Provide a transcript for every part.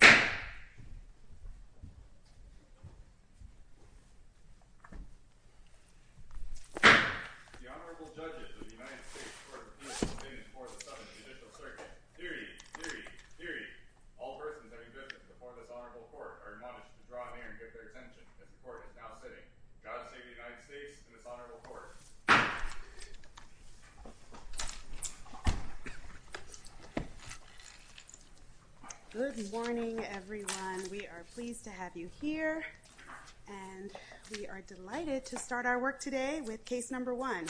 The Honorable Judges of the United States Court of Appeals are standing before the Southern Judicial Circuit. Hear ye! Hear ye! Hear ye! All persons having visited before this Honorable Court are admonished to draw near and give their attention as the Court is now sitting. God save the United States and this Honorable Court. Good morning, everyone. We are pleased to have you here. And we are delighted to start our work today with case number one.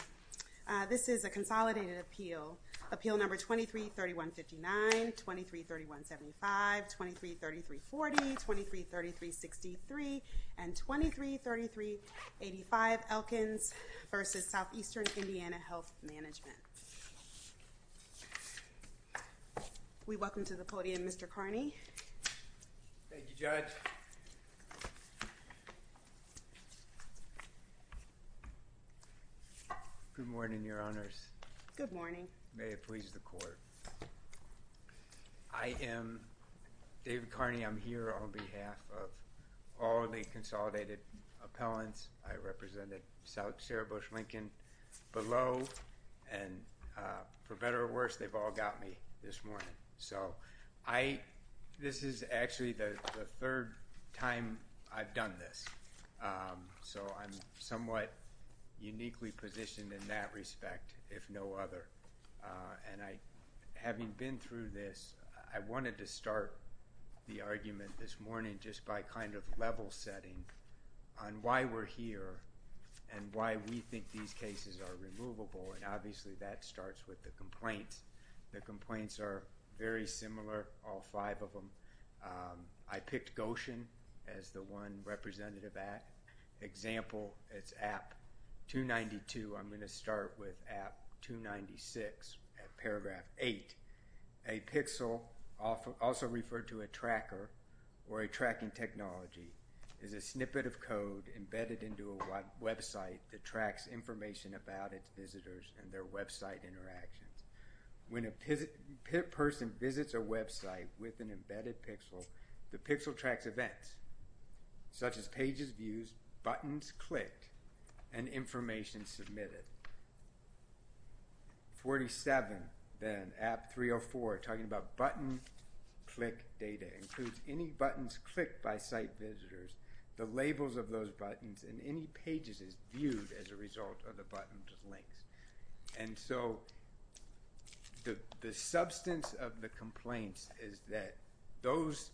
This is a consolidated appeal. Appeal number 23-3159, 23-3175, 23-3340, 23-3363, and 23-3385 Elkins v. Southeastern Indiana Health Management. We welcome to the podium Mr. Carney. Thank you, Judge. Good morning, Your Honors. Good morning. May it please the Court. I am David Carney. I'm here on behalf of all the consolidated appellants. I represented Sarah Bush Lincoln below. And for better or worse, they've all got me this morning. So I this is actually the third time I've done this. So I'm somewhat uniquely positioned in that respect, if no other. And having been through this, I wanted to start the argument this morning just by kind of level setting on why we're here and why we think these cases are removable. And obviously that starts with the complaints. The complaints are very similar, all five of them. I picked Goshen as the one representative at. Example, it's app 292. I'm going to start with app 296 at paragraph 8. A pixel, also referred to a tracker or a tracking technology, is a snippet of code embedded into a website that tracks information about its visitors and their website interactions. When a person visits a website with an embedded pixel, the pixel tracks events, such as pages views, buttons clicked, and information submitted. 47, then app 304, talking about button click data, includes any buttons clicked by site visitors, the labels of those buttons, and any pages as viewed as a result of the button links. And so the substance of the complaints is that those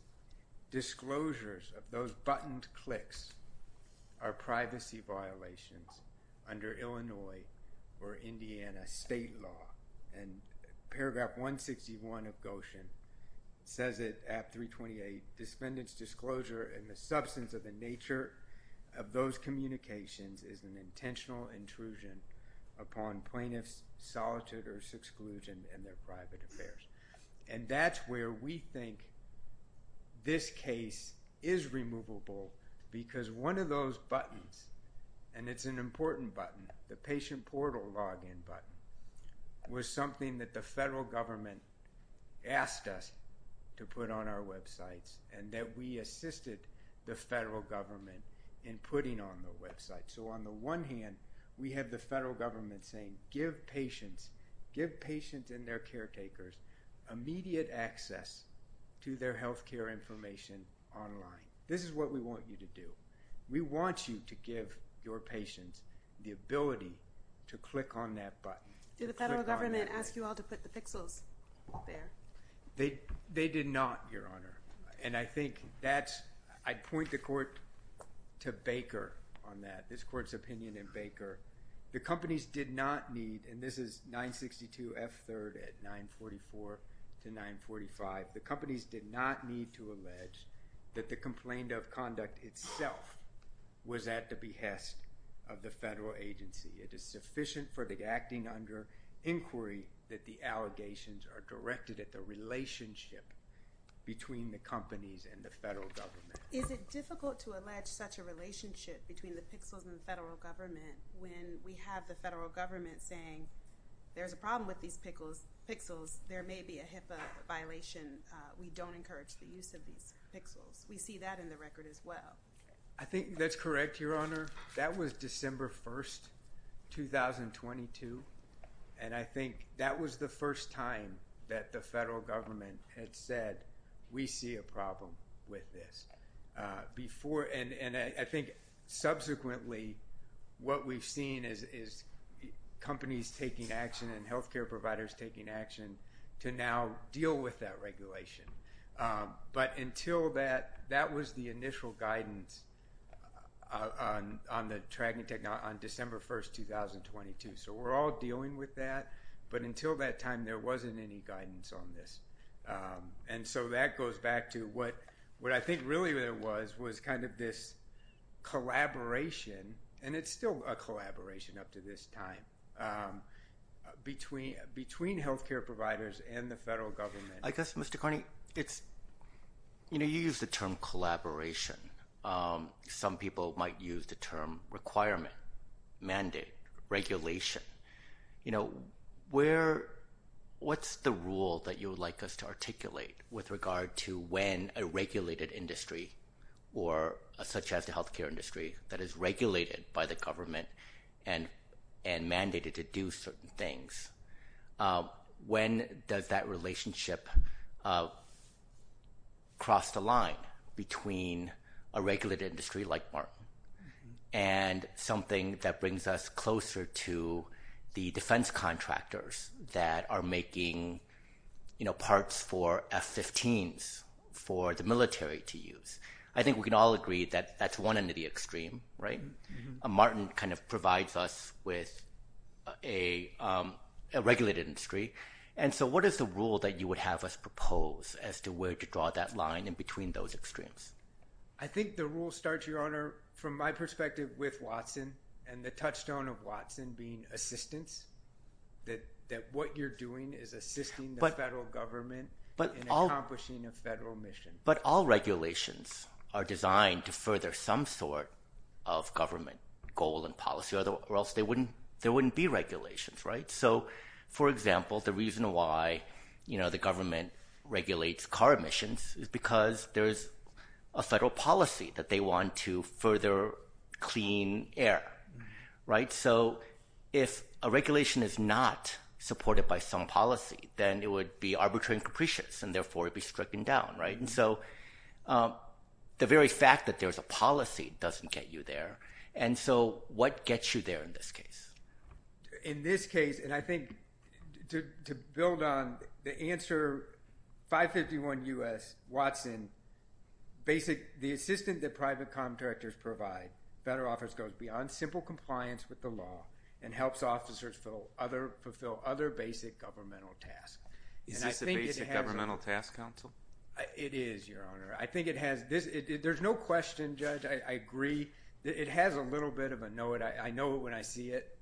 disclosures of those buttoned clicks are privacy violations under Illinois or Indiana state law. And paragraph 161 of Goshen says it, app 328, defendant's disclosure and the substance of the nature of those communications is an intentional intrusion upon plaintiff's solitude or exclusion in their private affairs. And that's where we think this case is removable because one of those buttons, and it's an important button, the patient portal login button, was something that the federal government asked us to put on our websites and that we assisted the federal government in putting on the website. So on the one hand, we have the federal government saying give patients, give patients and their caretakers immediate access to their healthcare information online. This is what we want you to do. We want you to give your patients the ability to click on that button. Do the federal government ask you all to put the pixels there? They did not, Your Honor. And I think that's, I'd point the court to Baker on that, this court's opinion in Baker. The companies did not need, and this is 962 F3rd at 944 to 945, the companies did not need to allege that the complaint of conduct itself was at the behest of the federal agency. It is sufficient for the acting under inquiry that the allegations are directed at the relationship between the companies and the federal government. Is it difficult to allege such a relationship between the pixels and the federal government when we have the federal government saying there's a problem with these pixels, there may be a HIPAA violation, we don't encourage the use of these pixels. We see that in the record as well. I think that's correct, Your Honor. That was December 1st, 2022, and I think that was the first time that the federal government had said we see a problem with this. And I think subsequently what we've seen is companies taking action and health care providers taking action to now deal with that regulation. But until that, that was the initial guidance on the tracking technology on December 1st, 2022. So we're all dealing with that, but until that time there wasn't any guidance on this. And so that goes back to what I think really was kind of this collaboration, and it's still a collaboration up to this time, between health care providers and the federal government. I guess, Mr. Carney, you use the term collaboration. Some people might use the term requirement, mandate, regulation. What's the rule that you would like us to articulate with regard to when a regulated industry or such as the health care industry that is regulated by the government and mandated to do certain things, when does that relationship cross the line between a regulated industry like Martin and something that brings us closer to the defense contractors that are making parts for F-15s for the military to use? I think we can all agree that that's one end of the extreme, right? Martin kind of provides us with a regulated industry. And so what is the rule that you would have us propose as to where to draw that line in between those extremes? I think the rule starts, Your Honor, from my perspective with Watson and the touchstone of Watson being assistance, that what you're doing is assisting the federal government in accomplishing a federal mission. But all regulations are designed to further some sort of government goal and policy, or else there wouldn't be regulations, right? So, for example, the reason why the government regulates car emissions is because there's a federal policy that they want to further clean air, right? So if a regulation is not supported by some policy, then it would be arbitrary and capricious, and therefore it would be stricken down, right? And so the very fact that there's a policy doesn't get you there. And so what gets you there in this case? In this case, and I think to build on the answer, 551 U.S. Watson, basic – the assistance that private contractors provide, federal office goes beyond simple compliance with the law and helps officers fulfill other basic governmental tasks. Is this a basic governmental task, counsel? It is, Your Honor. I think it has – there's no question, Judge, I agree. It has a little bit of a know-it-I-know-it-when-I-see-it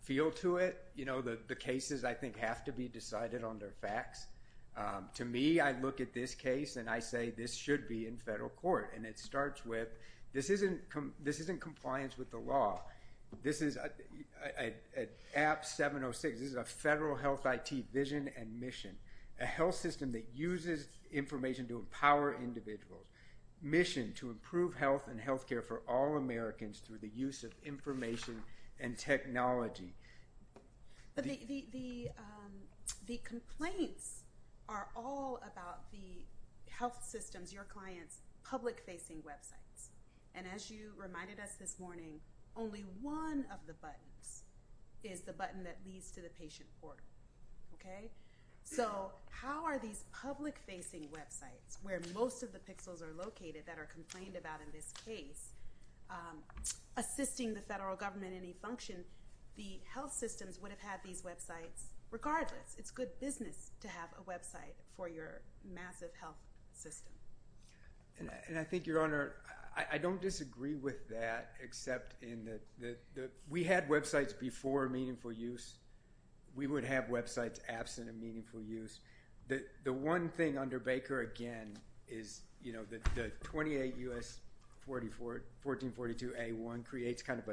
feel to it. You know, the cases, I think, have to be decided on their facts. To me, I look at this case and I say this should be in federal court, and it starts with this isn't compliance with the law. This is – at APT 706, this is a federal health IT vision and mission, a health system that uses information to empower individuals, mission to improve health and health care for all Americans through the use of information and technology. The complaints are all about the health systems, your clients' public-facing websites, and as you reminded us this morning, only one of the buttons is the button that leads to the patient portal, okay? So how are these public-facing websites, where most of the pixels are located that are complained about in this case, assisting the federal government in any function? The health systems would have had these websites regardless. It's good business to have a website for your massive health system. And I think, Your Honor, I don't disagree with that except in that we had websites before Meaningful Use. We would have websites absent of Meaningful Use. The one thing under Baker, again, is the 28 U.S. 1442A1 creates kind of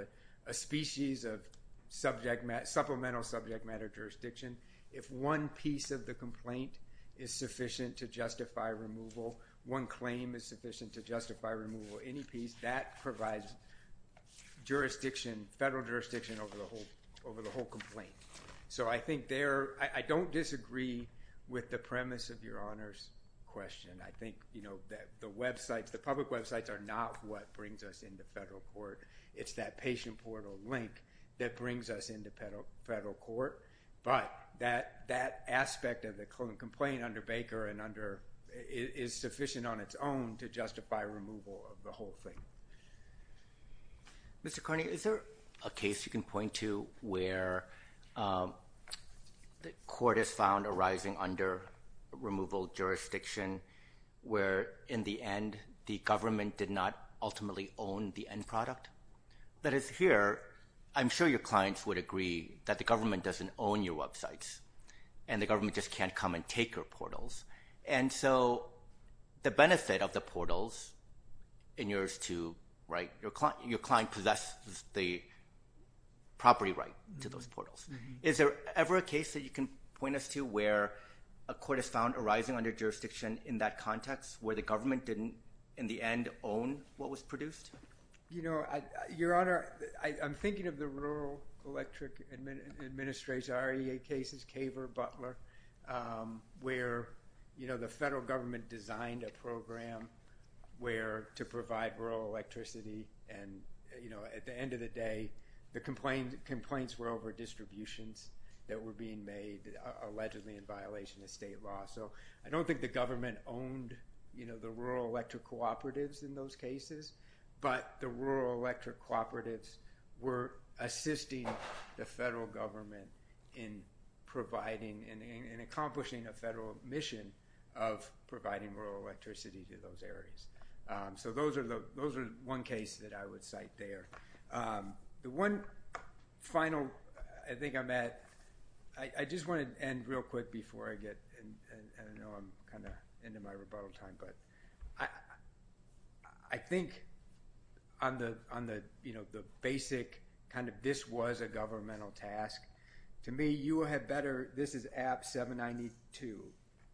a species of supplemental subject matter jurisdiction. If one piece of the complaint is sufficient to justify removal, one claim is sufficient to justify removal, any piece, that provides jurisdiction, federal jurisdiction over the whole complaint. So I think there – I don't disagree with the premise of Your Honor's question. I think, you know, that the websites, the public websites are not what brings us into federal court. It's that patient portal link that brings us into federal court. But that aspect of the complaint under Baker and under – is sufficient on its own to justify removal of the whole thing. Mr. Carney, is there a case you can point to where the court has found arising under removal jurisdiction where, in the end, the government did not ultimately own the end product? That is, here, I'm sure your clients would agree that the government doesn't own your websites and the government just can't come and take your portals. And so the benefit of the portals in yours to – right? Your client possesses the property right to those portals. Is there ever a case that you can point us to where a court has found arising under jurisdiction in that context where the government didn't, in the end, own what was produced? You know, Your Honor, I'm thinking of the Rural Electric Administration, REA cases, Kaver, Butler, where, you know, the federal government designed a program where – to provide rural electricity. And, you know, at the end of the day, the complaints were over distributions that were being made allegedly in violation of state law. So I don't think the government owned, you know, the rural electric cooperatives in those cases, but the rural electric cooperatives were assisting the federal government in providing and accomplishing a federal mission of providing rural electricity to those areas. So those are the – those are one case that I would cite there. The one final – I think I'm at – I just want to end real quick before I get – I know I'm kind of into my rebuttal time, but I think on the, you know, the basic kind of this was a governmental task. To me, you will have better – this is AB 792,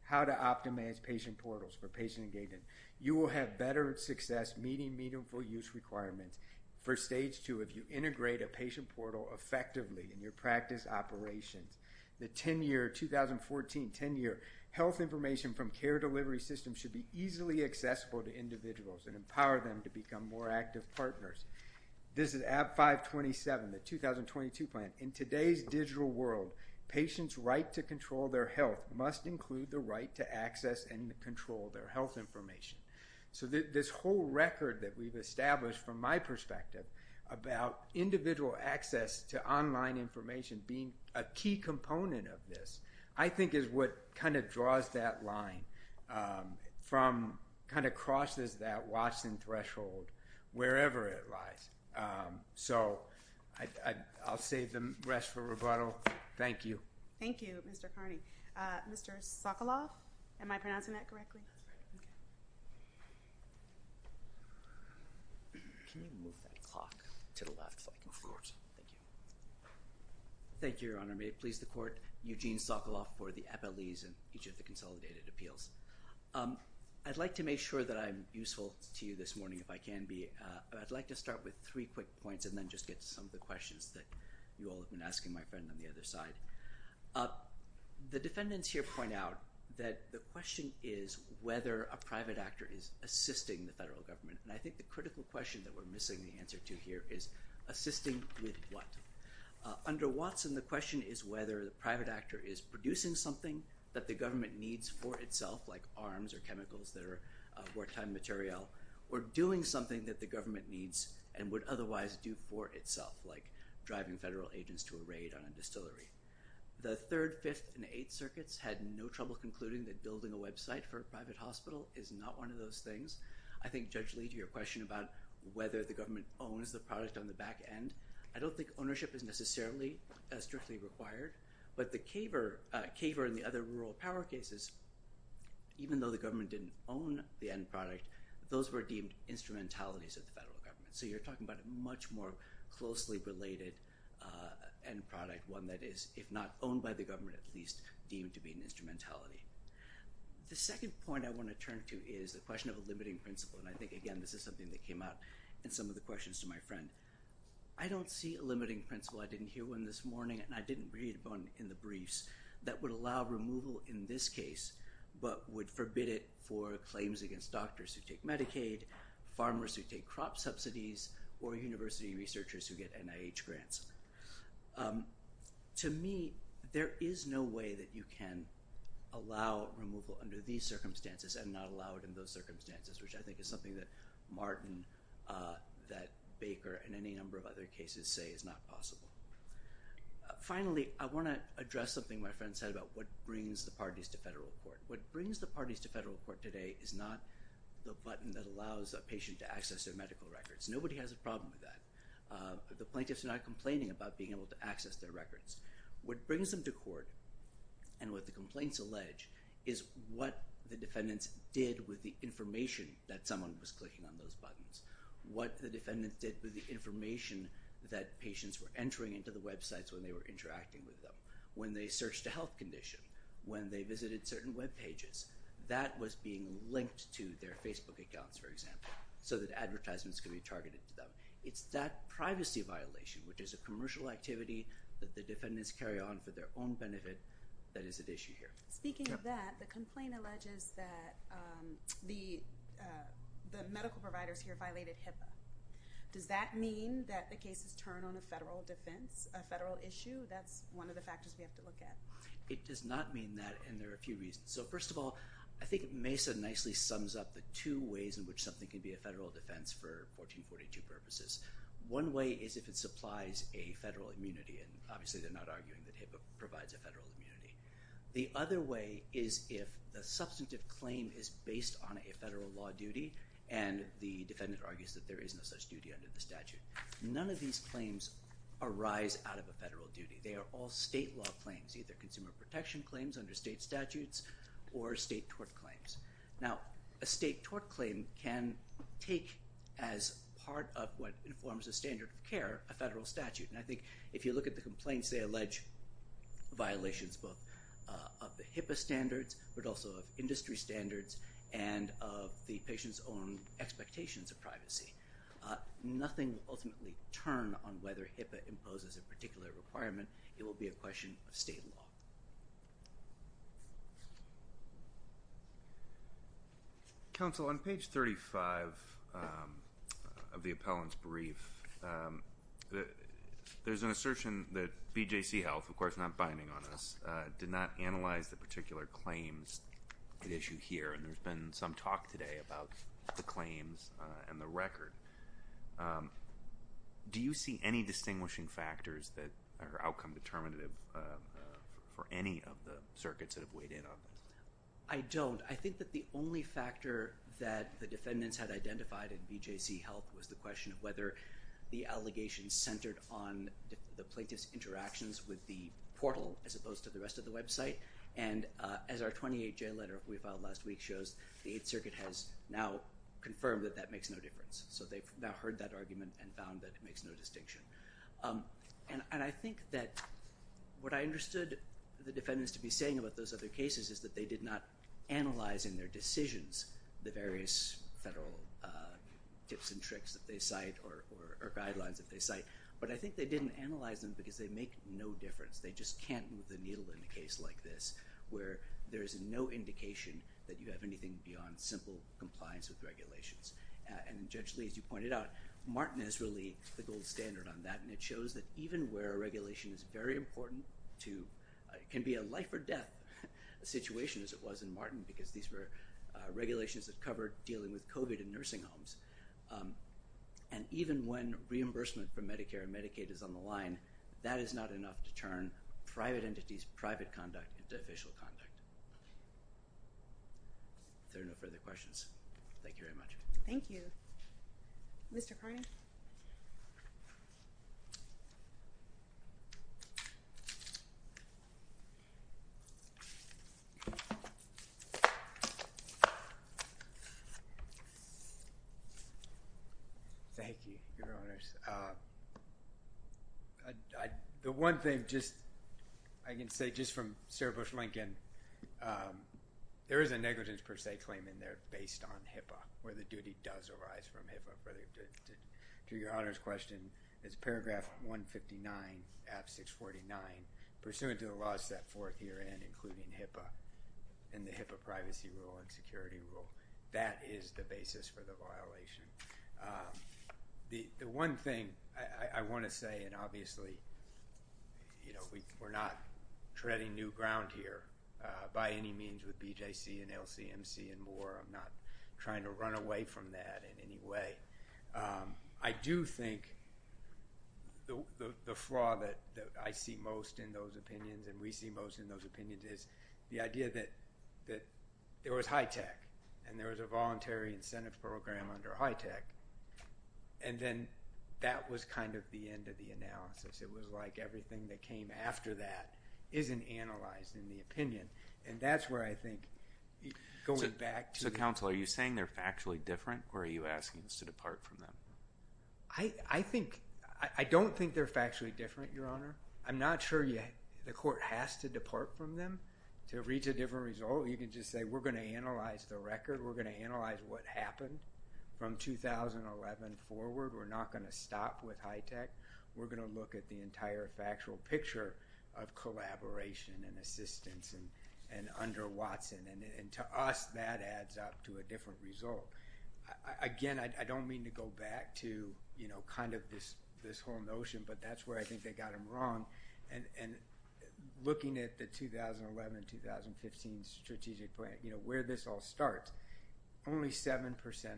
how to optimize patient portals for patient engagement. You will have better success meeting meaningful use requirements for Stage 2 if you integrate a patient portal effectively in your practice operations. The 10-year – 2014 10-year health information from care delivery systems should be easily accessible to individuals and empower them to become more active partners. This is AB 527, the 2022 plan. In today's digital world, patients' right to control their health must include the right to access and control their health information. So this whole record that we've established from my perspective about individual access to online information being a key component of this I think is what kind of draws that line from – kind of crosses that Watson threshold wherever it lies. So I'll save the rest for rebuttal. Thank you. Thank you, Mr. Carney. Mr. Sokoloff, am I pronouncing that correctly? That's right. Okay. Can you move that clock to the left if I can? Of course. Thank you. Thank you, Your Honor. May it please the Court, Eugene Sokoloff for the appellees in each of the consolidated appeals. I'd like to make sure that I'm useful to you this morning if I can be. I'd like to start with three quick points and then just get to some of the questions that you all have been asking my friend on the other side. The defendants here point out that the question is whether a private actor is assisting the federal government. And I think the critical question that we're missing the answer to here is assisting with what? The Third, Fifth, and Eighth Circuits had no trouble concluding that building a website for a private hospital is not one of those things. I think, Judge Lee, to your question about whether the government owns the product on the back end, I don't think ownership is necessarily strictly required. But the CABER and the other rural power cases, even though the government didn't own the end product, those were deemed instrumentalities of the federal government. So you're talking about a much more closely related end product, one that is, if not owned by the government, at least deemed to be an instrumentality. The second point I want to turn to is the question of a limiting principle. And I think, again, this is something that came out in some of the questions to my friend. I don't see a limiting principle. I didn't hear one this morning, and I didn't read one in the briefs that would allow removal in this case, but would forbid it for claims against doctors who take Medicaid, farmers who take crop subsidies, or university researchers who get NIH grants. To me, there is no way that you can allow removal under these circumstances and not allow it in those circumstances, which I think is something that Martin, that Baker, and any number of other cases say is not possible. Finally, I want to address something my friend said about what brings the parties to federal court. What brings the parties to federal court today is not the button that allows a patient to access their medical records. Nobody has a problem with that. The plaintiffs are not complaining about being able to access their records. What brings them to court and what the complaints allege is what the defendants did with the information that someone was clicking on those buttons, what the defendants did with the information that patients were entering into the websites when they were interacting with them, when they searched a health condition, when they visited certain webpages. That was being linked to their Facebook accounts, for example, so that advertisements could be targeted to them. It's that privacy violation, which is a commercial activity that the defendants carry on for their own benefit that is at issue here. Speaking of that, the complaint alleges that the medical providers here violated HIPAA. Does that mean that the cases turn on a federal defense, a federal issue? That's one of the factors we have to look at. It does not mean that, and there are a few reasons. First of all, I think Mesa nicely sums up the two ways in which something can be a federal defense for 1442 purposes. One way is if it supplies a federal immunity, and obviously they're not arguing that HIPAA provides a federal immunity. The other way is if the substantive claim is based on a federal law duty, and the defendant argues that there is no such duty under the statute. None of these claims arise out of a federal duty. They are all state law claims, either consumer protection claims under state statutes or state tort claims. Now, a state tort claim can take as part of what informs a standard of care a federal statute, and I think if you look at the complaints, they allege violations both of the HIPAA standards, but also of industry standards and of the patient's own expectations of privacy. Nothing will ultimately turn on whether HIPAA imposes a particular requirement. It will be a question of state law. Thank you. Counsel, on page 35 of the appellant's brief, there's an assertion that BJC Health, of course not binding on us, did not analyze the particular claims at issue here, and there's been some talk today about the claims and the record. Do you see any distinguishing factors that are outcome determinative for any of the circuits that have weighed in on this? I don't. I think that the only factor that the defendants had identified in BJC Health was the question of whether the allegations centered on the plaintiff's interactions with the portal as opposed to the rest of the website, and as our 28-J letter we filed last week shows, the Eighth Circuit has now confirmed that that makes no difference. So they've now heard that argument and found that it makes no distinction. And I think that what I understood the defendants to be saying about those other cases is that they did not analyze in their decisions the various federal tips and tricks that they cite or guidelines that they cite, but I think they didn't analyze them because they make no difference. They just can't move the needle in a case like this where there is no indication that you have anything beyond simple compliance with regulations. And Judge Lee, as you pointed out, Martin is really the gold standard on that, and it shows that even where a regulation is very important to – can be a life or death situation, as it was in Martin, because these were regulations that covered dealing with COVID in nursing homes, and even when reimbursement from Medicare and Medicaid is on the line, that is not enough to turn private entities, private conduct into official conduct. If there are no further questions, thank you very much. Thank you. Mr. Carney? Thank you, Your Honors. The one thing just – I can say just from Sarah Bush Lincoln, there is a negligence per se claim in there based on HIPAA, where the duty does arise from HIPAA. To Your Honors' question, it's paragraph 159, ab 649, pursuant to the laws set forth herein, including HIPAA and the HIPAA privacy rule and security rule. That is the basis for the violation. The one thing I want to say, and obviously we're not treading new ground here by any means with BJC and LCMC and more. I'm not trying to run away from that in any way. I do think the flaw that I see most in those opinions and we see most in those opinions is the idea that there was high tech and there was a voluntary incentive program under high tech. And then that was kind of the end of the analysis. It was like everything that came after that isn't analyzed in the opinion. And that's where I think going back to – So counsel, are you saying they're factually different or are you asking us to depart from them? I think – I don't think they're factually different, Your Honor. I'm not sure the court has to depart from them to reach a different result. You can just say we're going to analyze the record. We're going to analyze what happened from 2011 forward. We're not going to stop with high tech. We're going to look at the entire factual picture of collaboration and assistance and under Watson. And to us, that adds up to a different result. Again, I don't mean to go back to kind of this whole notion, but that's where I think they got them wrong. And looking at the 2011-2015 strategic plan, where this all starts, only 7%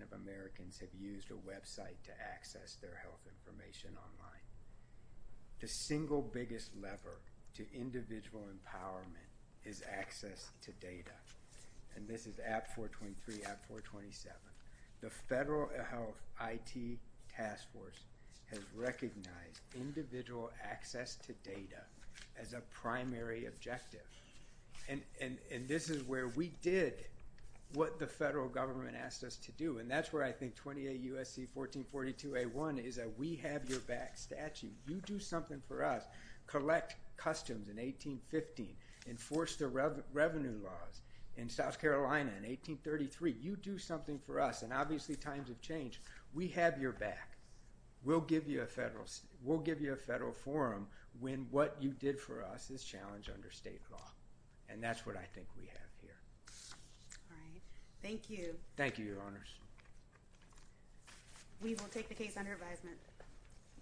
of Americans have used a website to access their health information online. The single biggest lever to individual empowerment is access to data. And this is AB 423, AB 427. The Federal Health IT Task Force has recognized individual access to data as a primary objective. And this is where we did what the federal government asked us to do. And that's where I think 28 U.S.C. 1442A1 is that we have your back statute. You do something for us. Collect customs in 1815, enforce the revenue laws in South Carolina in 1833. You do something for us. And obviously times have changed. We have your back. We'll give you a federal forum when what you did for us is challenged under state law. And that's what I think we have here. All right. Thank you. Thank you, Your Honors. We will take the case under advisement.